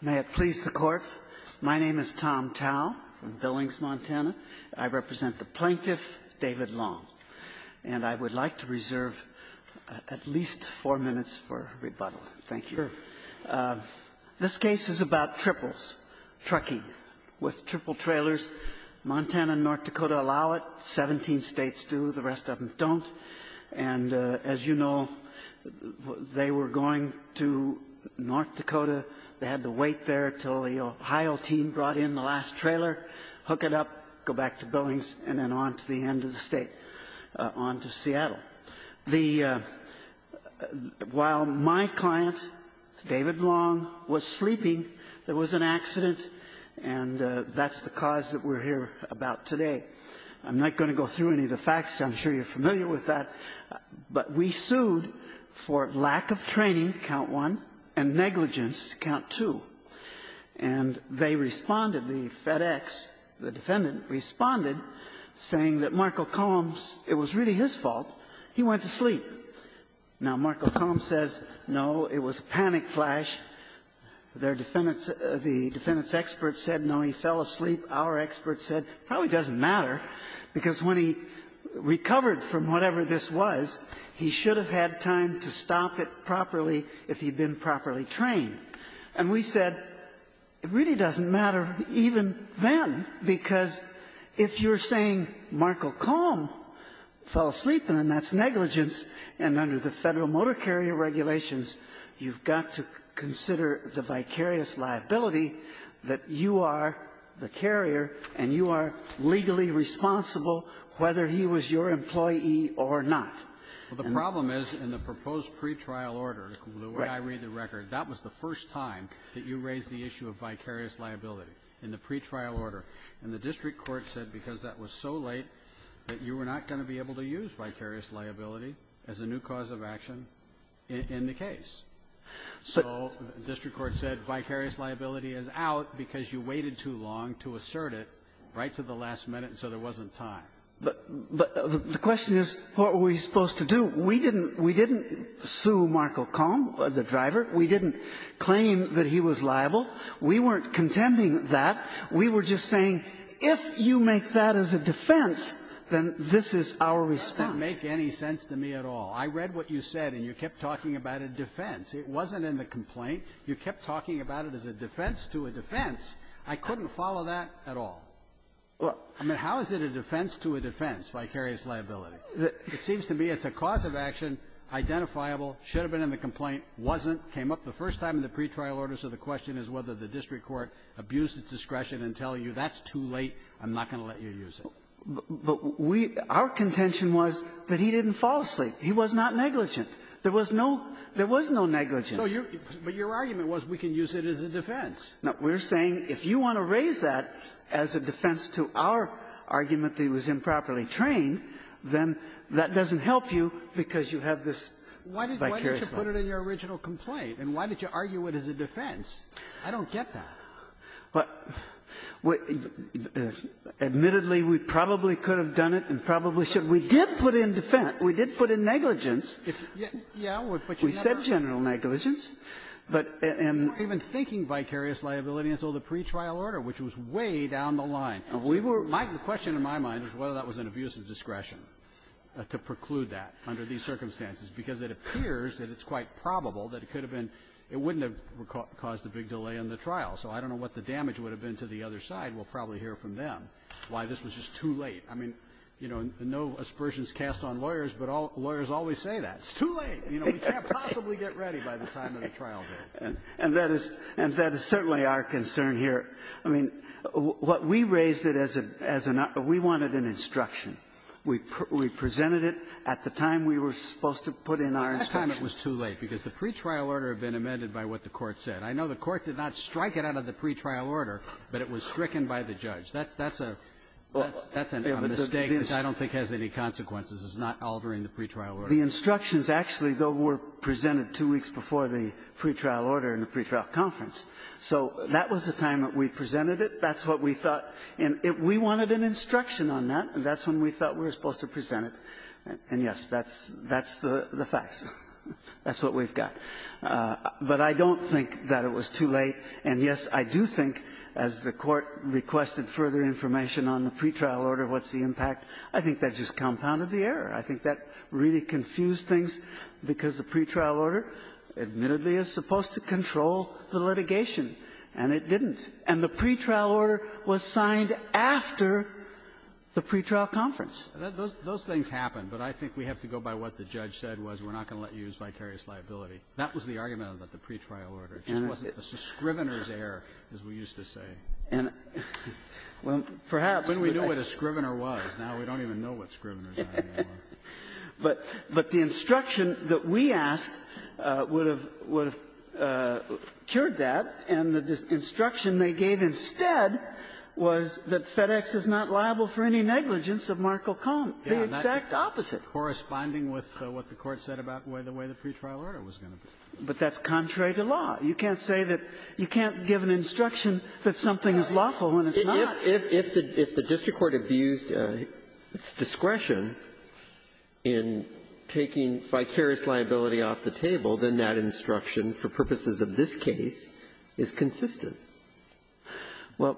May it please the Court, my name is Tom Towell from Billings, Montana. I represent the plaintiff, David Long. And I would like to reserve at least four minutes for rebuttal. Thank you. This case is about triples, trucking with triple trailers. Montana and North Dakota allow it. Seventeen States do. The rest of them don't. And as you know, they were going to North Dakota. They had to wait there until the Ohio team brought in the last trailer, hook it up, go back to Billings, and then on to the end of the state, on to Seattle. The – while my client, David Long, was sleeping, there was an accident, and that's the cause that we're here about today. I'm not going to go through any of the facts. I'm sure you're familiar with that. But we sued for lack of training, count one, and negligence, count two. And they responded, the FedEx, the defendant responded, saying that Marco Coombs, it was really his fault, he went to sleep. Now, Marco Coombs says, no, it was a panic flash. Their defendants – the defendant's experts said, no, he fell asleep. Our experts said, it probably doesn't matter, because when he recovered from whatever this was, he should have had time to stop it properly if he'd been properly trained. And we said, it really doesn't matter even then, because if you're saying Marco Coombs fell asleep, then that's negligence, and under the Federal Motor Carrier Regulations, you've got to consider the vicarious liability that you are the carrier and you are legally responsible, whether he was your employee or not. Well, the problem is, in the proposed pretrial order, the way I read the record, that was the first time that you raised the issue of vicarious liability in the pretrial order. And the district court said because that was so late that you were not going to be able to use vicarious liability as a new cause of action in the case. So the district court said vicarious liability is out because you waited too long to assert it right to the last minute, and so there wasn't time. But the question is, what were we supposed to do? We didn't sue Marco Coombs, the driver. We didn't claim that he was liable. We weren't contending that. We were just saying, if you make that as a defense, then this is our response. Breyer, that didn't make any sense to me at all. I read what you said, and you kept talking about a defense. It wasn't in the complaint. You kept talking about it as a defense to a defense. I couldn't follow that at all. I mean, how is it a defense to a defense, vicarious liability? It seems to me it's a cause of action, identifiable, should have been in the complaint, wasn't, came up the first time in the pretrial order, so the question is whether the district court abused its discretion and tell you that's too late, I'm not going to let you use it. But we – our contention was that he didn't fall asleep. He was not negligent. There was no – there was no negligence. So you – but your argument was we can use it as a defense. No. We're saying if you want to raise that as a defense to our argument that he was improperly trained, then that doesn't help you because you have this vicarious liability. Why didn't you put it in your original complaint? And why did you argue it as a defense? I don't get that. But we – admittedly, we probably could have done it and probably should. We did put it in defense. We did put it in negligence. Yeah, but you never – We said general negligence, but – and – We weren't even thinking vicarious liability until the pretrial order, which was way down the line. We were – The question in my mind is whether that was an abuse of discretion to preclude that under these circumstances, because it appears that it's quite probable that it could have been – it wouldn't have caused a big delay in the trial. So I don't know what the damage would have been to the other side. We'll probably hear from them why this was just too late. I mean, you know, no aspersions cast on lawyers, but lawyers always say that. It's too late. You know, we can't possibly get ready by the time of the trial date. And that is – and that is certainly our concern here. I mean, what we raised it as a – we wanted an instruction. We presented it at the time we were supposed to put in our instruction. It was too late, because the pretrial order had been amended by what the Court said. I know the Court did not strike it out of the pretrial order, but it was stricken by the judge. That's a – that's a mistake that I don't think has any consequences, is not altering the pretrial order. The instructions actually, though, were presented two weeks before the pretrial order and the pretrial conference. So that was the time that we presented it. That's what we thought. And we wanted an instruction on that, and that's when we thought we were supposed to present it. And, yes, that's – that's the facts. That's what we've got. But I don't think that it was too late. And, yes, I do think, as the Court requested further information on the pretrial order, what's the impact. I think that just compounded the error. I think that really confused things, because the pretrial order, admittedly, is supposed to control the litigation, and it didn't. And the pretrial order was signed after the pretrial conference. Those things happen, but I think we have to go by what the judge said, was we're not going to let you use vicarious liability. That was the argument about the pretrial order. It just wasn't the Scrivener's error, as we used to say. And perhaps we don't know what a Scrivener was. Now we don't even know what Scrivener's error was. But the instruction that we asked would have cured that, and the instruction they gave instead was that FedEx is not liable for any negligence of Markle-Koenig the exact opposite. Corresponding with what the Court said about the way the pretrial order was going to be. But that's contrary to law. You can't say that you can't give an instruction that something is lawful when it's not. If the district court abused its discretion in taking vicarious liability off the table, then that instruction, for purposes of this case, is consistent. Well,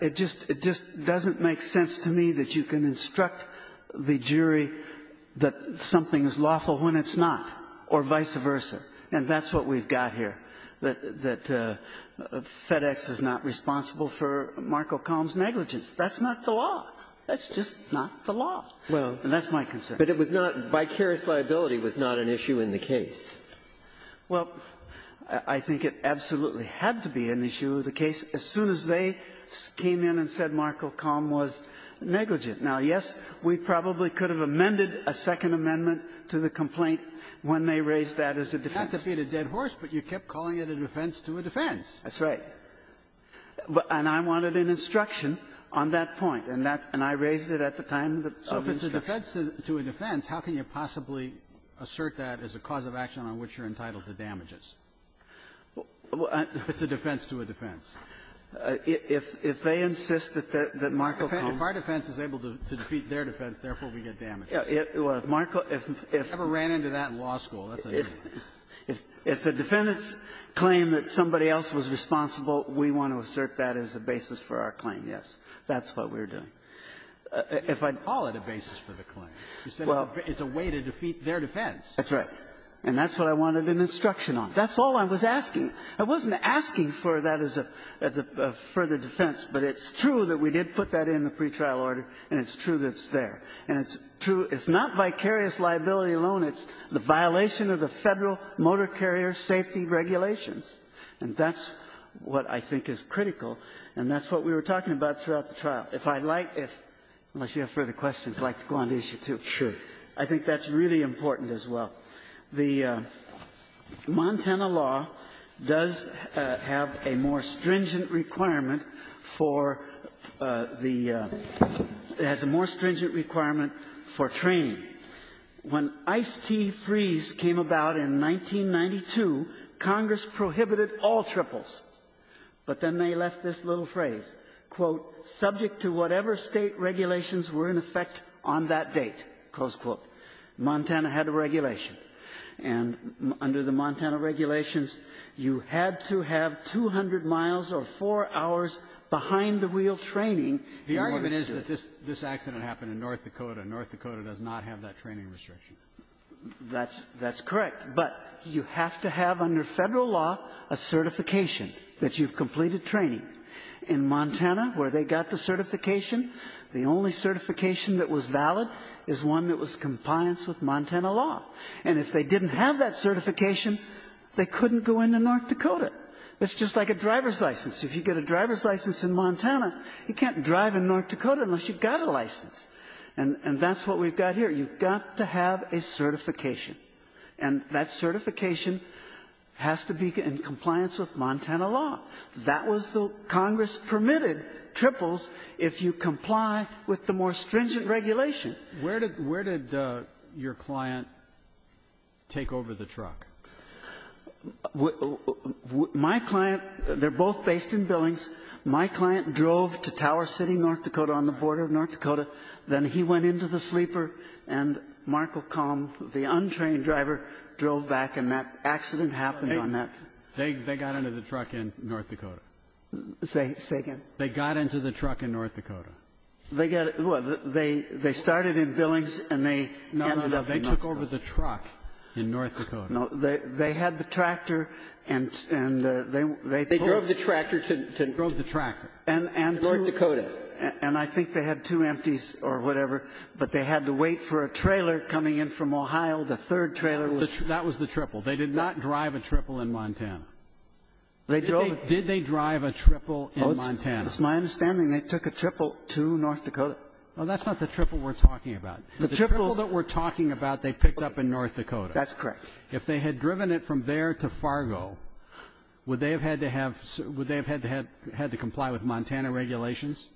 it just doesn't make sense to me that you can instruct the jury that something is lawful when it's not, or vice versa. And that's what we've got here, that FedEx is not responsible for Markle-Koenig's negligence. That's not the law. That's just not the law. And that's my concern. But it was not by vicarious liability was not an issue in the case. Well, I think it absolutely had to be an issue of the case as soon as they came in and said Markle-Koenig was negligent. Now, yes, we probably could have amended a Second Amendment to the complaint when they raised that as a defense. It had to be a dead horse, but you kept calling it a defense to a defense. That's right. And I wanted an instruction on that point. And that's why I raised it at the time of the instruction. So if it's a defense to a defense, how can you possibly assert that as a cause of action on which you're entitled to damages? If it's a defense to a defense. If they insist that Markle-Koenig If our defense is able to defeat their defense, therefore, we get damages. If Markle-Koenig If I ever ran into that in law school, that's an issue. If the defendants claim that somebody else was responsible, we want to assert that as a basis for our claim, yes. That's what we're doing. If I'd You didn't call it a basis for the claim. You said it's a way to defeat their defense. That's right. And that's what I wanted an instruction on. That's all I was asking. I wasn't asking for that as a further defense, but it's true that we did put that in the pretrial order, and it's true that it's there. And it's true it's not vicarious liability alone. It's the violation of the Federal Motor Carrier Safety Regulations. And that's what I think is critical, and that's what we were talking about throughout the trial. If I'd like, unless you have further questions, I'd like to go on to issue two. Sure. I think that's really important as well. The Montana law does have a more stringent requirement for the the more stringent requirement for training. When Ice-T freeze came about in 1992, Congress prohibited all triples, but then they state regulations were in effect on that date, close quote. Montana had a regulation. And under the Montana regulations, you had to have 200 miles or 4 hours behind-the-wheel training in order to do it. The argument is that this accident happened in North Dakota, and North Dakota does not have that training restriction. That's correct. But you have to have, under Federal law, a certification that you've completed training. In Montana, where they got the certification, the only certification that was valid is one that was compliance with Montana law. And if they didn't have that certification, they couldn't go into North Dakota. It's just like a driver's license. If you get a driver's license in Montana, you can't drive in North Dakota unless you've got a license. And that's what we've got here. You've got to have a certification. And that certification has to be in compliance with Montana law. That was the Congress-permitted triples if you comply with the more stringent regulation. Where did your client take over the truck? My client — they're both based in Billings. My client drove to Tower City, North Dakota, on the border of North Dakota. Then he went into the sleeper, and Marco Combe, the untrained driver, drove back, and that accident happened on that. They got into the truck in North Dakota. Say again? They got into the truck in North Dakota. They got — well, they started in Billings, and they ended up in North Dakota. No, no, no. They took over the truck in North Dakota. No. They had the tractor, and they pulled — They drove the tractor to — Drove the tractor. And to — North Dakota. And I think they had two empties or whatever, but they had to wait for a trailer coming in from Ohio. The third trailer was — That was the triple. They did not drive a triple in Montana. They drove — Did they drive a triple in Montana? It's my understanding they took a triple to North Dakota. Well, that's not the triple we're talking about. The triple — The triple that we're talking about they picked up in North Dakota. That's correct. If they had driven it from there to Fargo, would they have had to have — would they have had to have — had to comply with Montana regulations?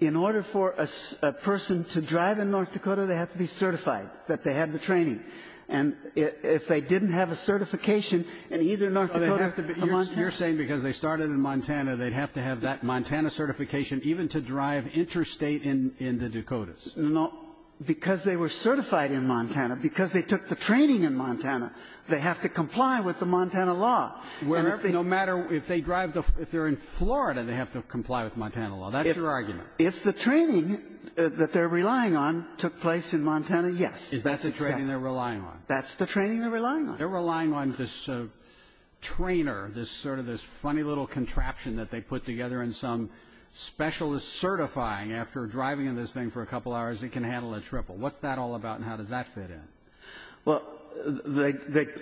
In order for a person to drive in North Dakota, they have to be certified that they had the training. And if they didn't have a certification in either North Dakota or Montana — You're saying because they started in Montana, they'd have to have that Montana certification even to drive interstate in the Dakotas? No. Because they were certified in Montana, because they took the training in Montana, they have to comply with the Montana law. And if they — No matter — if they drive the — if they're in Florida, they have to comply with Montana law. That's your argument. If the training that they're relying on took place in Montana, yes. Is that the training they're relying on? That's the training they're relying on. They're relying on this trainer, this sort of — this funny little contraption that they put together and some specialist certifying after driving in this thing for a couple hours, it can handle a triple. What's that all about and how does that fit in? Well,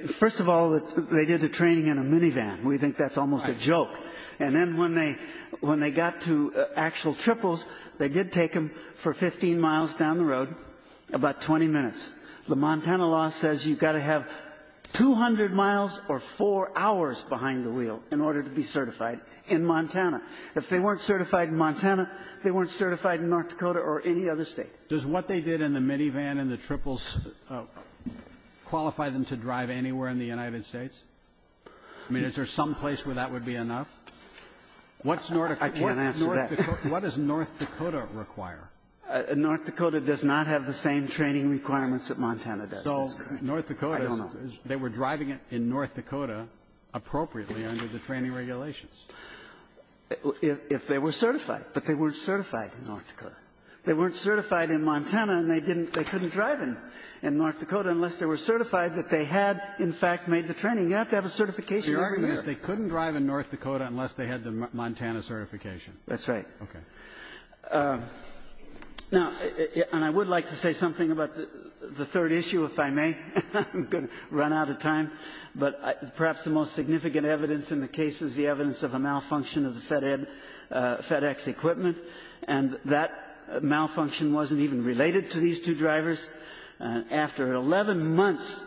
first of all, they did the training in a minivan. We think that's almost a joke. And then when they — when they got to actual triples, they did take them for 15 miles down the road, about 20 minutes. The Montana law says you've got to have 200 miles or four hours behind the wheel in order to be certified in Montana. If they weren't certified in Montana, they weren't certified in North Dakota or any other State. Does what they did in the minivan and the triples qualify them to drive anywhere in the United States? I mean, is there some place where that would be enough? What's North — I can't answer that. What does North Dakota require? North Dakota does not have the same training requirements that Montana does. So North Dakota — I don't know. They were driving in North Dakota appropriately under the training regulations. If they were certified, but they weren't certified in North Dakota. They weren't certified in Montana, and they didn't — they couldn't drive in North Dakota unless they were certified that they had, in fact, made the training. You have to have a certification every year. Your argument is they couldn't drive in North Dakota unless they had the Montana certification. That's right. Okay. Now, and I would like to say something about the third issue, if I may. I'm going to run out of time. But perhaps the most significant evidence in the case is the evidence of a malfunction of the FedEx equipment, and that malfunction wasn't even related to these two drivers. After 11 months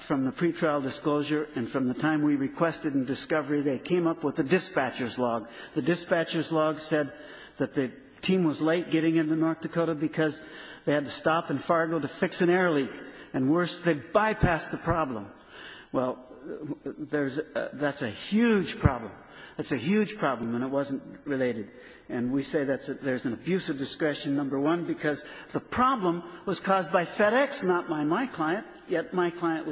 from the pretrial disclosure and from the time we requested in discovery, they came up with the dispatcher's log. The dispatcher's log said that the team was late getting into North Dakota because they had to stop in Fargo to fix an air leak. And worse, they bypassed the problem. Well, there's — that's a huge problem. That's a huge problem, and it wasn't related. And we say that's — there's an abuse of discretion, number one, because the problem was caused by FedEx, not by my client, yet my client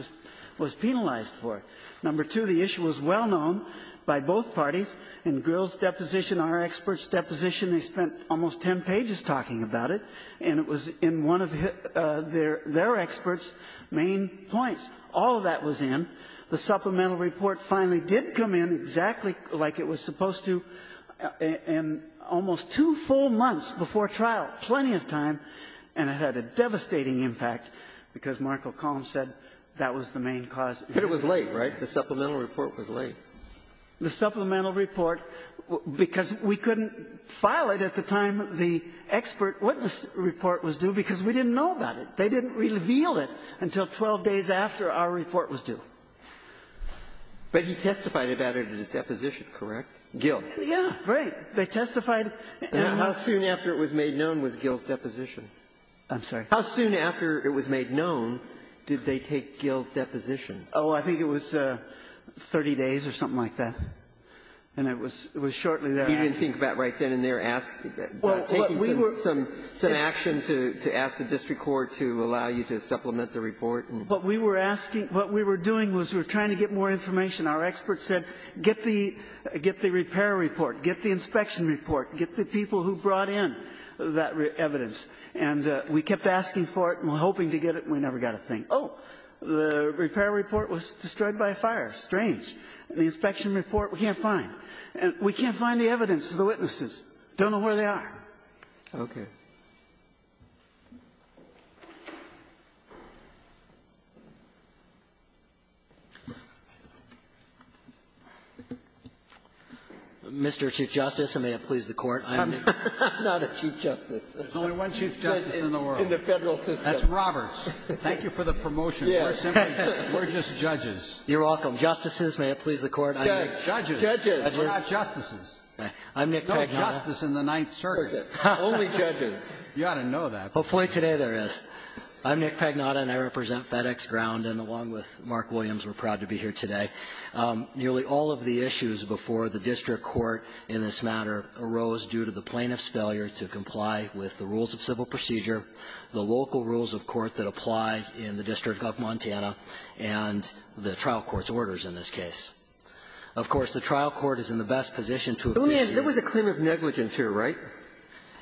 was penalized for it. Number two, the issue was well-known by both parties. In Grill's deposition, our expert's deposition, they spent almost 10 pages talking about it, and it was in one of their — their expert's main points. All of that was in. The supplemental report finally did come in, exactly like it was supposed to, in almost two full months before trial, plenty of time, and it had a devastating impact, because Mark O'Connell said that was the main cause. But it was late, right? The supplemental report was late. The supplemental report, because we couldn't file it at the time the expert witness report was due because we didn't know about it. They didn't reveal it until 12 days after our report was due. But he testified about it at his deposition, correct? Gill. Yeah. Right. They testified. How soon after it was made known was Gill's deposition? I'm sorry? How soon after it was made known did they take Gill's deposition? Oh, I think it was 30 days or something like that. And it was shortly thereafter. You didn't think about it right then and there, taking some action to ask the district court to allow you to supplement the report? What we were asking — what we were doing was we were trying to get more information. Our expert said, get the repair report, get the inspection report, get the people who brought in that evidence. And we kept asking for it and hoping to get it, and we never got a thing. Oh, the repair report was destroyed by a fire. Strange. The inspection report, we can't find. And we can't find the evidence of the witnesses. Don't know where they are. Okay. Mr. Chief Justice, and may it please the Court. I'm not a chief justice. There's only one chief justice in the world. In the Federal system. That's Roberts. Thank you for the promotion. We're just judges. You're welcome. Justices, may it please the Court. I'm Nick Pagnotta, and I represent FedEx Ground. And along with Mark Williams, we're proud to be here today. Nearly all of the issues before the district court in this matter arose due to the plaintiff's failure to comply with the rules of civil procedure, the local rules of court that apply in the District of Montana, and the trial court's orders in this case. Of course, the trial court is in the best position to appreciate the rules. There was a claim of negligence here, right?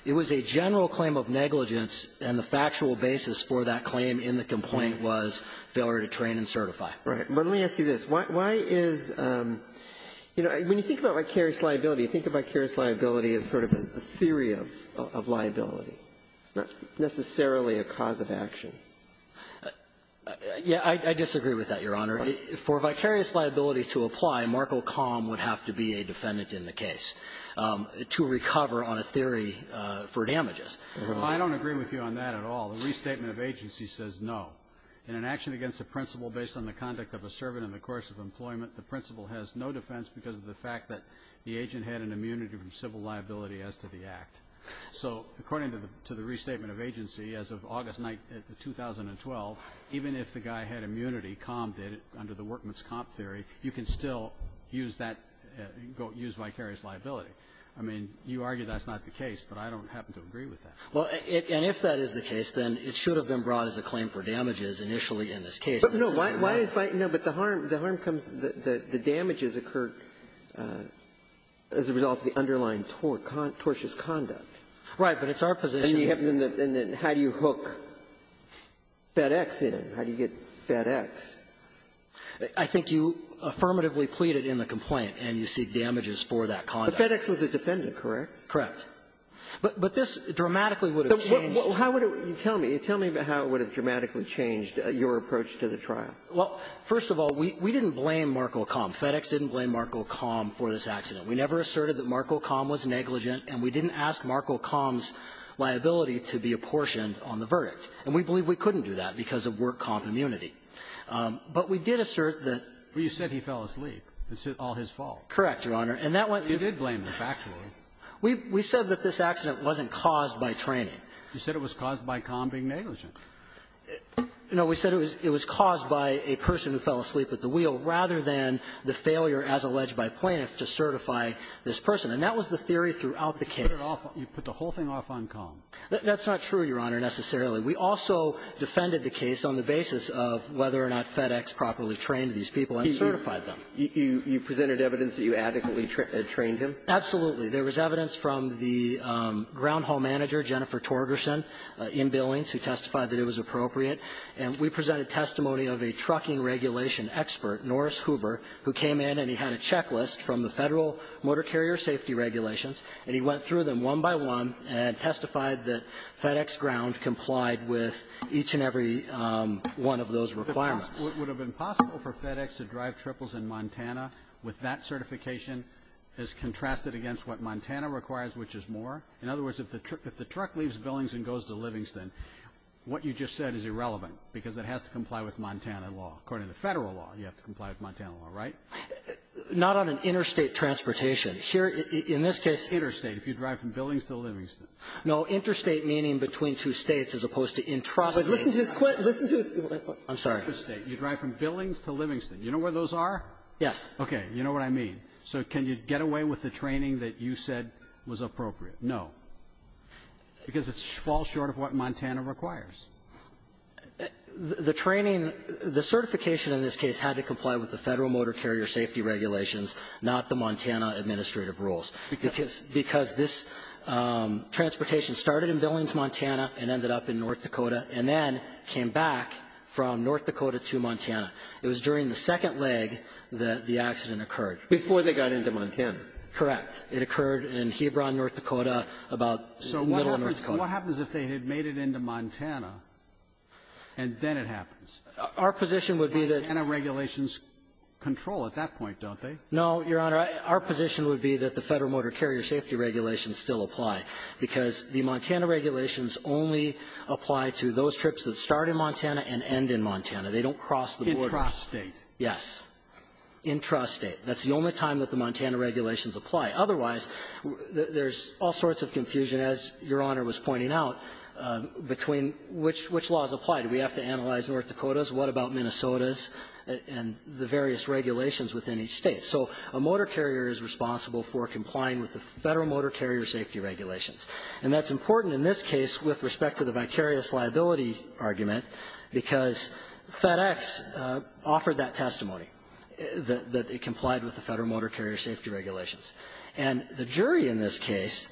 It was a general claim of negligence, and the factual basis for that claim in the complaint was failure to train and certify. Right. But let me ask you this. Why is you know, when you think about vicarious liability, you think of vicarious liability as sort of a theory of liability. It's not necessarily a cause of action. Yeah, I disagree with that, Your Honor. For vicarious liability to apply, Marco Com would have to be a defendant in the case to recover on a theory for damages. I don't agree with you on that at all. The restatement of agency says no. In an action against a principal based on the conduct of a servant in the course of employment, the principal has no defense because of the fact that the agent had an immunity from civil liability as to the act. So according to the restatement of agency, as of August 9th, 2012, even if the guy had immunity, Com did it under the workman's comp theory, you can still use that go to use vicarious liability. I mean, you argue that's not the case, but I don't happen to agree with that. Well, and if that is the case, then it should have been brought as a claim for damages initially in this case. But no, why is the harm, the harm comes, the damages occur as a result of the underlying tortuous conduct. Right. But it's our position that the other thing is how do you hook FedEx in? How do you get FedEx? I think you affirmatively pleaded in the complaint, and you seek damages for that conduct. But FedEx was a defendant, correct? Correct. But this dramatically would have changed. How would it be? Tell me. Tell me how it would have dramatically changed your approach to the trial. Well, first of all, we didn't blame Marco Com. FedEx didn't blame Marco Com for this accident. We never asserted that Marco Com was negligent, and we didn't ask Marco Com's liability to be apportioned on the verdict. And we believe we couldn't do that because of work comp immunity. But we did assert that the ---- Well, you said he fell asleep. It's all his fault. Correct, Your Honor. And that went to ---- You did blame him, actually. We said that this accident wasn't caused by training. You said it was caused by Com being negligent. No. We said it was caused by a person who fell asleep at the wheel, rather than the failure, as alleged by plaintiff, to certify this person. And that was the theory throughout the case. You put the whole thing off on Com. That's not true, Your Honor, necessarily. We also defended the case on the basis of whether or not FedEx properly trained these people and certified them. You presented evidence that you adequately trained him? Absolutely. There was evidence from the ground hall manager, Jennifer Torgerson, in Billings, who testified that it was appropriate. And we presented testimony of a trucking regulation expert, Norris Hoover, who came in and he had a checklist from the Federal Motor Carrier Safety Regulations, and he went through them one by one and testified that FedEx ground complied with each and every one of those requirements. Would it have been possible for FedEx to drive triples in Montana with that certification as contrasted against what Montana requires, which is more? In other words, if the truck leaves Billings and goes to Livingston, what you just said is irrelevant, because it has to comply with Montana law. According to Federal law, you have to comply with Montana law, right? Not on an interstate transportation. Here, in this case --- Interstate, if you drive from Billings to Livingston. No. Interstate meaning between two States as opposed to intrastate. But listen to his question. Listen to his question. I'm sorry. Interstate. You drive from Billings to Livingston. You know where those are? Yes. Okay. You know what I mean. So can you get away with the training that you said was appropriate? No. Because it falls short of what Montana requires. The training the certification in this case had to comply with the Federal motor carrier safety regulations, not the Montana administrative rules. Because this transportation started in Billings, Montana, and ended up in North Dakota, and then came back from North Dakota to Montana. It was during the second leg that the accident occurred. Before they got into Montana. Correct. It occurred in Hebron, North Dakota, about the middle of North Dakota. So what happens if they had made it into Montana, and then it happens? Our position would be that the regulations control at that point, don't they? No, Your Honor. Our position would be that the Federal motor carrier safety regulations still apply, because the Montana regulations only apply to those trips that start in Montana and end in Montana. They don't cross the border. Intrastate. Yes. Intrastate. That's the only time that the Montana regulations apply. Otherwise, there's all sorts of confusion, as Your Honor was pointing out, between which laws apply. Do we have to analyze North Dakotas, what about Minnesotas, and the various regulations within each state? So a motor carrier is responsible for complying with the Federal motor carrier safety regulations. And that's important in this case with respect to the vicarious liability argument, because FedEx offered that testimony, that it complied with the Federal motor carrier safety regulations. And the jury in this case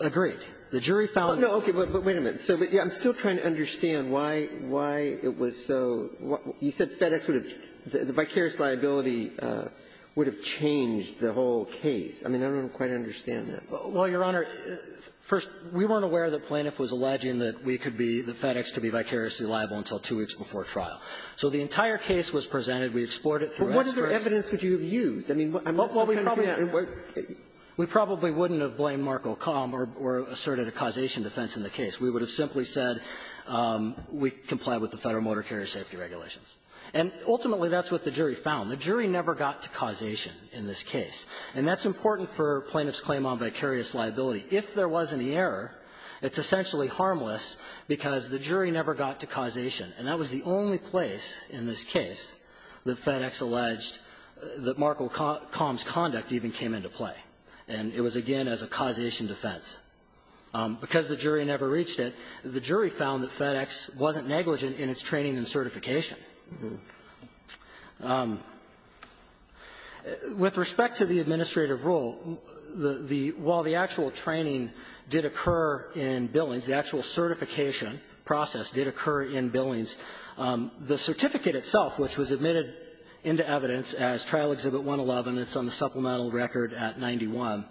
agreed. The jury found that the Federal motor carrier safety regulations complied with the Federal motor carrier safety regulations. But wait a minute. I'm still trying to understand why it was so you said FedEx would have the vicarious liability would have changed the whole case. I mean, I don't quite understand that. Well, Your Honor, first, we weren't aware that Plaintiff was alleging that we could be, that FedEx could be vicariously liable until two weeks before trial. So the entire case was presented. We explored it through experts. But what other evidence would you have used? I mean, I'm just so confused. We probably wouldn't have blamed Markel-Kahm or asserted a causation defense in the case. We would have simply said we comply with the Federal motor carrier safety regulations. And ultimately, that's what the jury found. The jury never got to causation in this case. And that's important for Plaintiff's claim on vicarious liability. If there was any error, it's essentially harmless because the jury never got to causation. And that was the only place in this case that FedEx alleged that Markel-Kahm's conduct even came into play. And it was, again, as a causation defense. Because the jury never reached it, the jury found that FedEx wasn't negligent in its training and certification. With respect to the administrative rule, the the the actual training did occur in billings. The actual certification process did occur in billings. The certificate itself, which was admitted into evidence as Trial Exhibit 111, it's on the supplemental record at 91,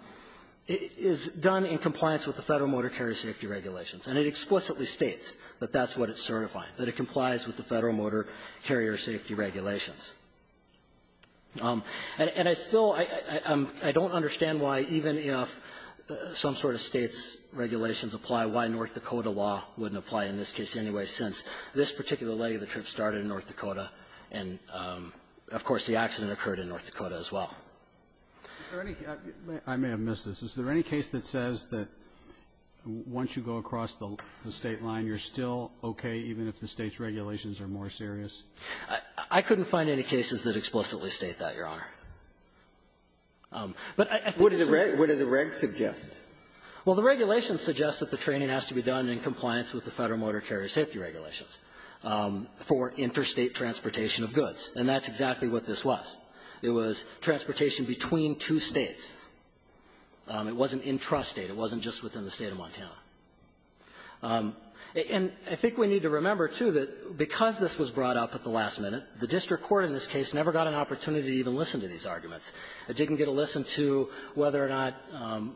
is done in compliance with the Federal motor carrier safety regulations. And it explicitly states that that's what it's certifying, that it complies with the Federal motor carrier safety regulations. And I still don't understand why, even if some sort of State's regulations apply, why North Dakota law wouldn't apply in this case anyway, since this particular leg of the trip started in North Dakota, and, of course, the accident occurred in North Dakota as well. Roberts. Is there any case that says that once you go across the State line, you're still okay even if the State's regulations are more serious? I couldn't find any cases that explicitly state that, Your Honor. But I think it's a right. What do the regs suggest? Well, the regulations suggest that the training has to be done in compliance with the Federal motor carrier safety regulations for interstate transportation of goods. And that's exactly what this was. It was transportation between two States. It wasn't intrastate. It wasn't just within the State of Montana. And I think we need to remember, too, that because this was brought up at the last minute, the district court in this case never got an opportunity to even listen to these arguments. It didn't get a listen to whether or not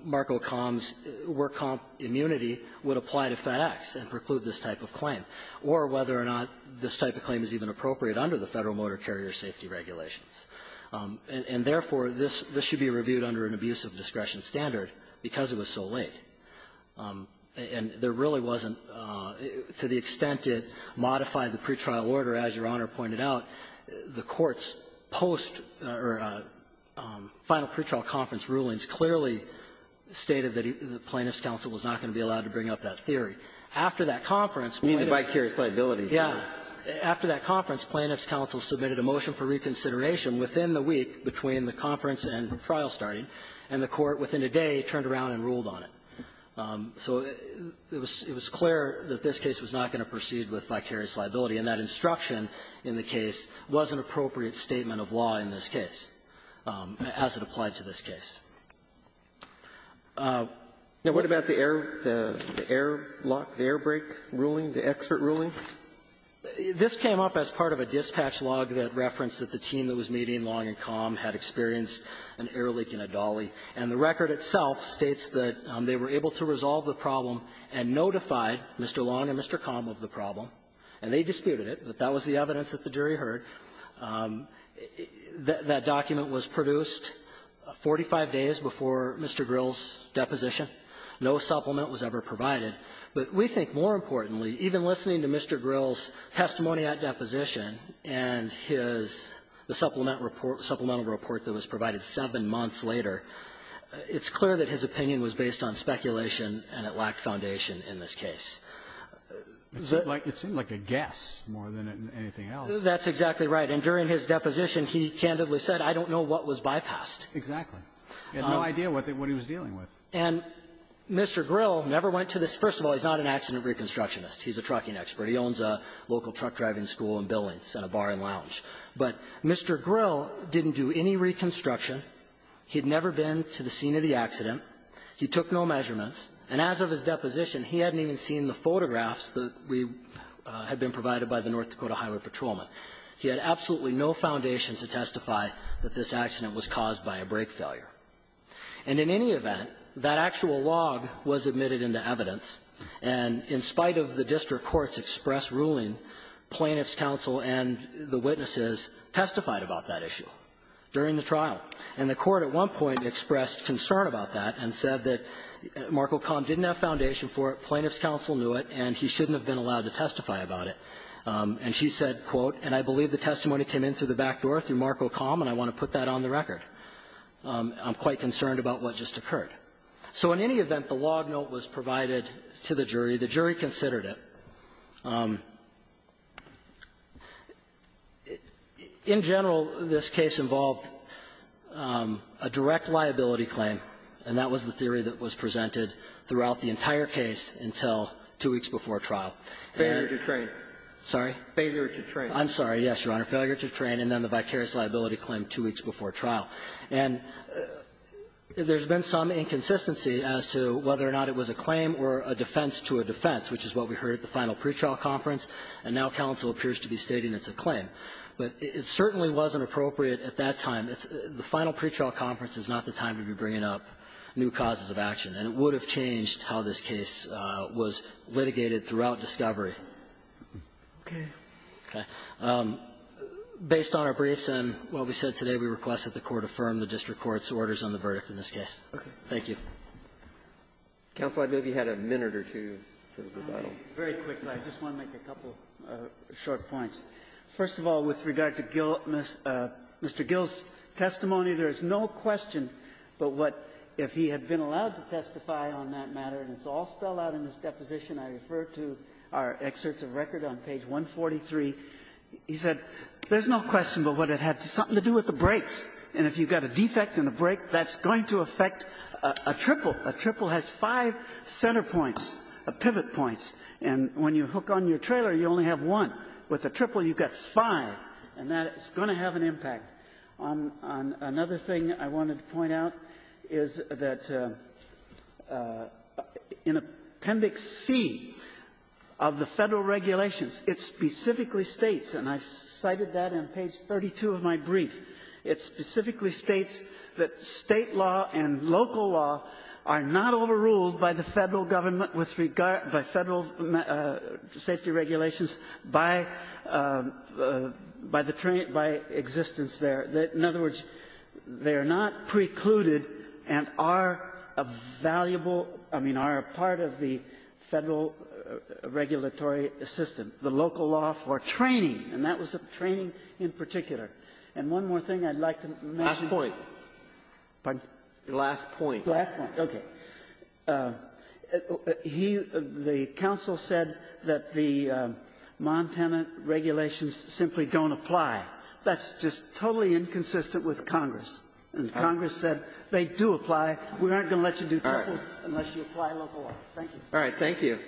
Marco Com's work comp immunity would apply to FedEx and preclude this type of claim, or whether or not this type of claim is even appropriate under the Federal motor carrier safety regulations. And, therefore, this should be reviewed under an abuse of discretion standard because it was so late. And there really wasn't, to the extent it modified the pretrial order, as Your Honor pointed out, the Court's post or final pretrial conference rulings clearly stated that the Plaintiff's counsel was not going to be allowed to bring up that theory. I mean, the vicarious liability theory. Yeah. After that conference, Plaintiff's counsel submitted a motion for reconsideration within the week between the conference and trial starting, and the Court within a day turned around and ruled on it. So it was clear that this case was not going to proceed with vicarious liability. And that instruction in the case was an appropriate statement of law in this case, as it applied to this case. Now, what about the airlock, the air brake ruling, the expert ruling? This came up as part of a dispatch log that referenced that the team that was meeting Long and Com had experienced an air leak in a dolly. And the record itself states that they were able to resolve the problem and notified Mr. Long and Mr. Com of the problem. And they disputed it, but that was the evidence that the jury heard. That document was produced 45 days before Mr. Grill's deposition. No supplement was ever provided. But we think, more importantly, even listening to Mr. Grill's testimony at deposition and his the supplement report, supplemental report that was provided seven months later, it's clear that his opinion was based on speculation, and it lacked foundation in this case. It seemed like a guess more than anything else. That's exactly right. And during his deposition, he candidly said, I don't know what was bypassed. Exactly. He had no idea what he was dealing with. And Mr. Grill never went to this. First of all, he's not an accident reconstructionist. He's a trucking expert. He owns a local truck driving school and buildings and a bar and lounge. But Mr. Grill didn't do any reconstruction. He had never been to the scene of the accident. He took no measurements. And as of his deposition, he hadn't even seen the photographs that we had been provided by the North Dakota Highway Patrolman. He had absolutely no foundation to testify that this accident was caused by a brake failure. And in any event, that actual log was admitted into evidence, and in spite of the district courts' express ruling, plaintiffs' counsel and the witnesses testified about that issue during the trial. And the Court at one point expressed concern about that and said that Marco Com didn't have foundation for it, plaintiffs' counsel knew it, and he shouldn't have been allowed to testify about it. And she said, quote, and I believe the testimony came in through the back door through Marco Com, and I want to put that on the record. I'm quite concerned about what just occurred. So in any event, the log note was provided to the jury. The jury considered it. In general, this case involved a direct liability claim, and that was the theory that was presented throughout the entire case until two weeks before trial. And there was a claim that the victim had been a victim of a brake failure. I'm sorry, yes, Your Honor. Failure to train, and then the vicarious liability claim two weeks before trial. And there's been some inconsistency as to whether or not it was a claim or a defense to a defense, which is what we heard at the final pretrial conference, and now counsel appears to be stating it's a claim. But it certainly wasn't appropriate at that time. The final pretrial conference is not the time to be bringing up new causes of action. And it would have changed how this case was litigated throughout discovery. Okay. Based on our briefs and what we said today, we request that the Court affirm the district court's orders on the verdict in this case. Thank you. Counsel, I believe you had a minute or two for rebuttal. Very quickly. I just want to make a couple short points. First of all, with regard to Gill Mr. Gill's testimony, there is no question but what, if he had been allowed to testify on that matter, and it's all spelled out in this deposition, I refer to our excerpts of record on page 143. He said there's no question but what it had something to do with the brakes. And if you've got a defect in the brake, that's going to affect a triple. A triple has five center points, pivot points. And when you hook on your trailer, you only have one. With a triple, you've got five. And that is going to have an impact. On another thing I wanted to point out is that in Appendix C of the Federal Regulations, it specifically states, and I cited that in page 32 of my brief, it specifically states that State law and local law are not overruled by the Federal government with regard by Federal safety regulations by the train, by existence there. In other words, they are not precluded and are a valuable, I mean, are a part of the Federal regulatory system, the local law for training. And that was training in particular. And one more thing I'd like to mention. Breyer. Last point. Pardon? Last point. Last point. Okay. He the counsel said that the Montana regulations simply don't apply. That's just totally inconsistent with Congress. And Congress said they do apply. We aren't going to let you do triples unless you apply local law. Thank you. All right. Thank you.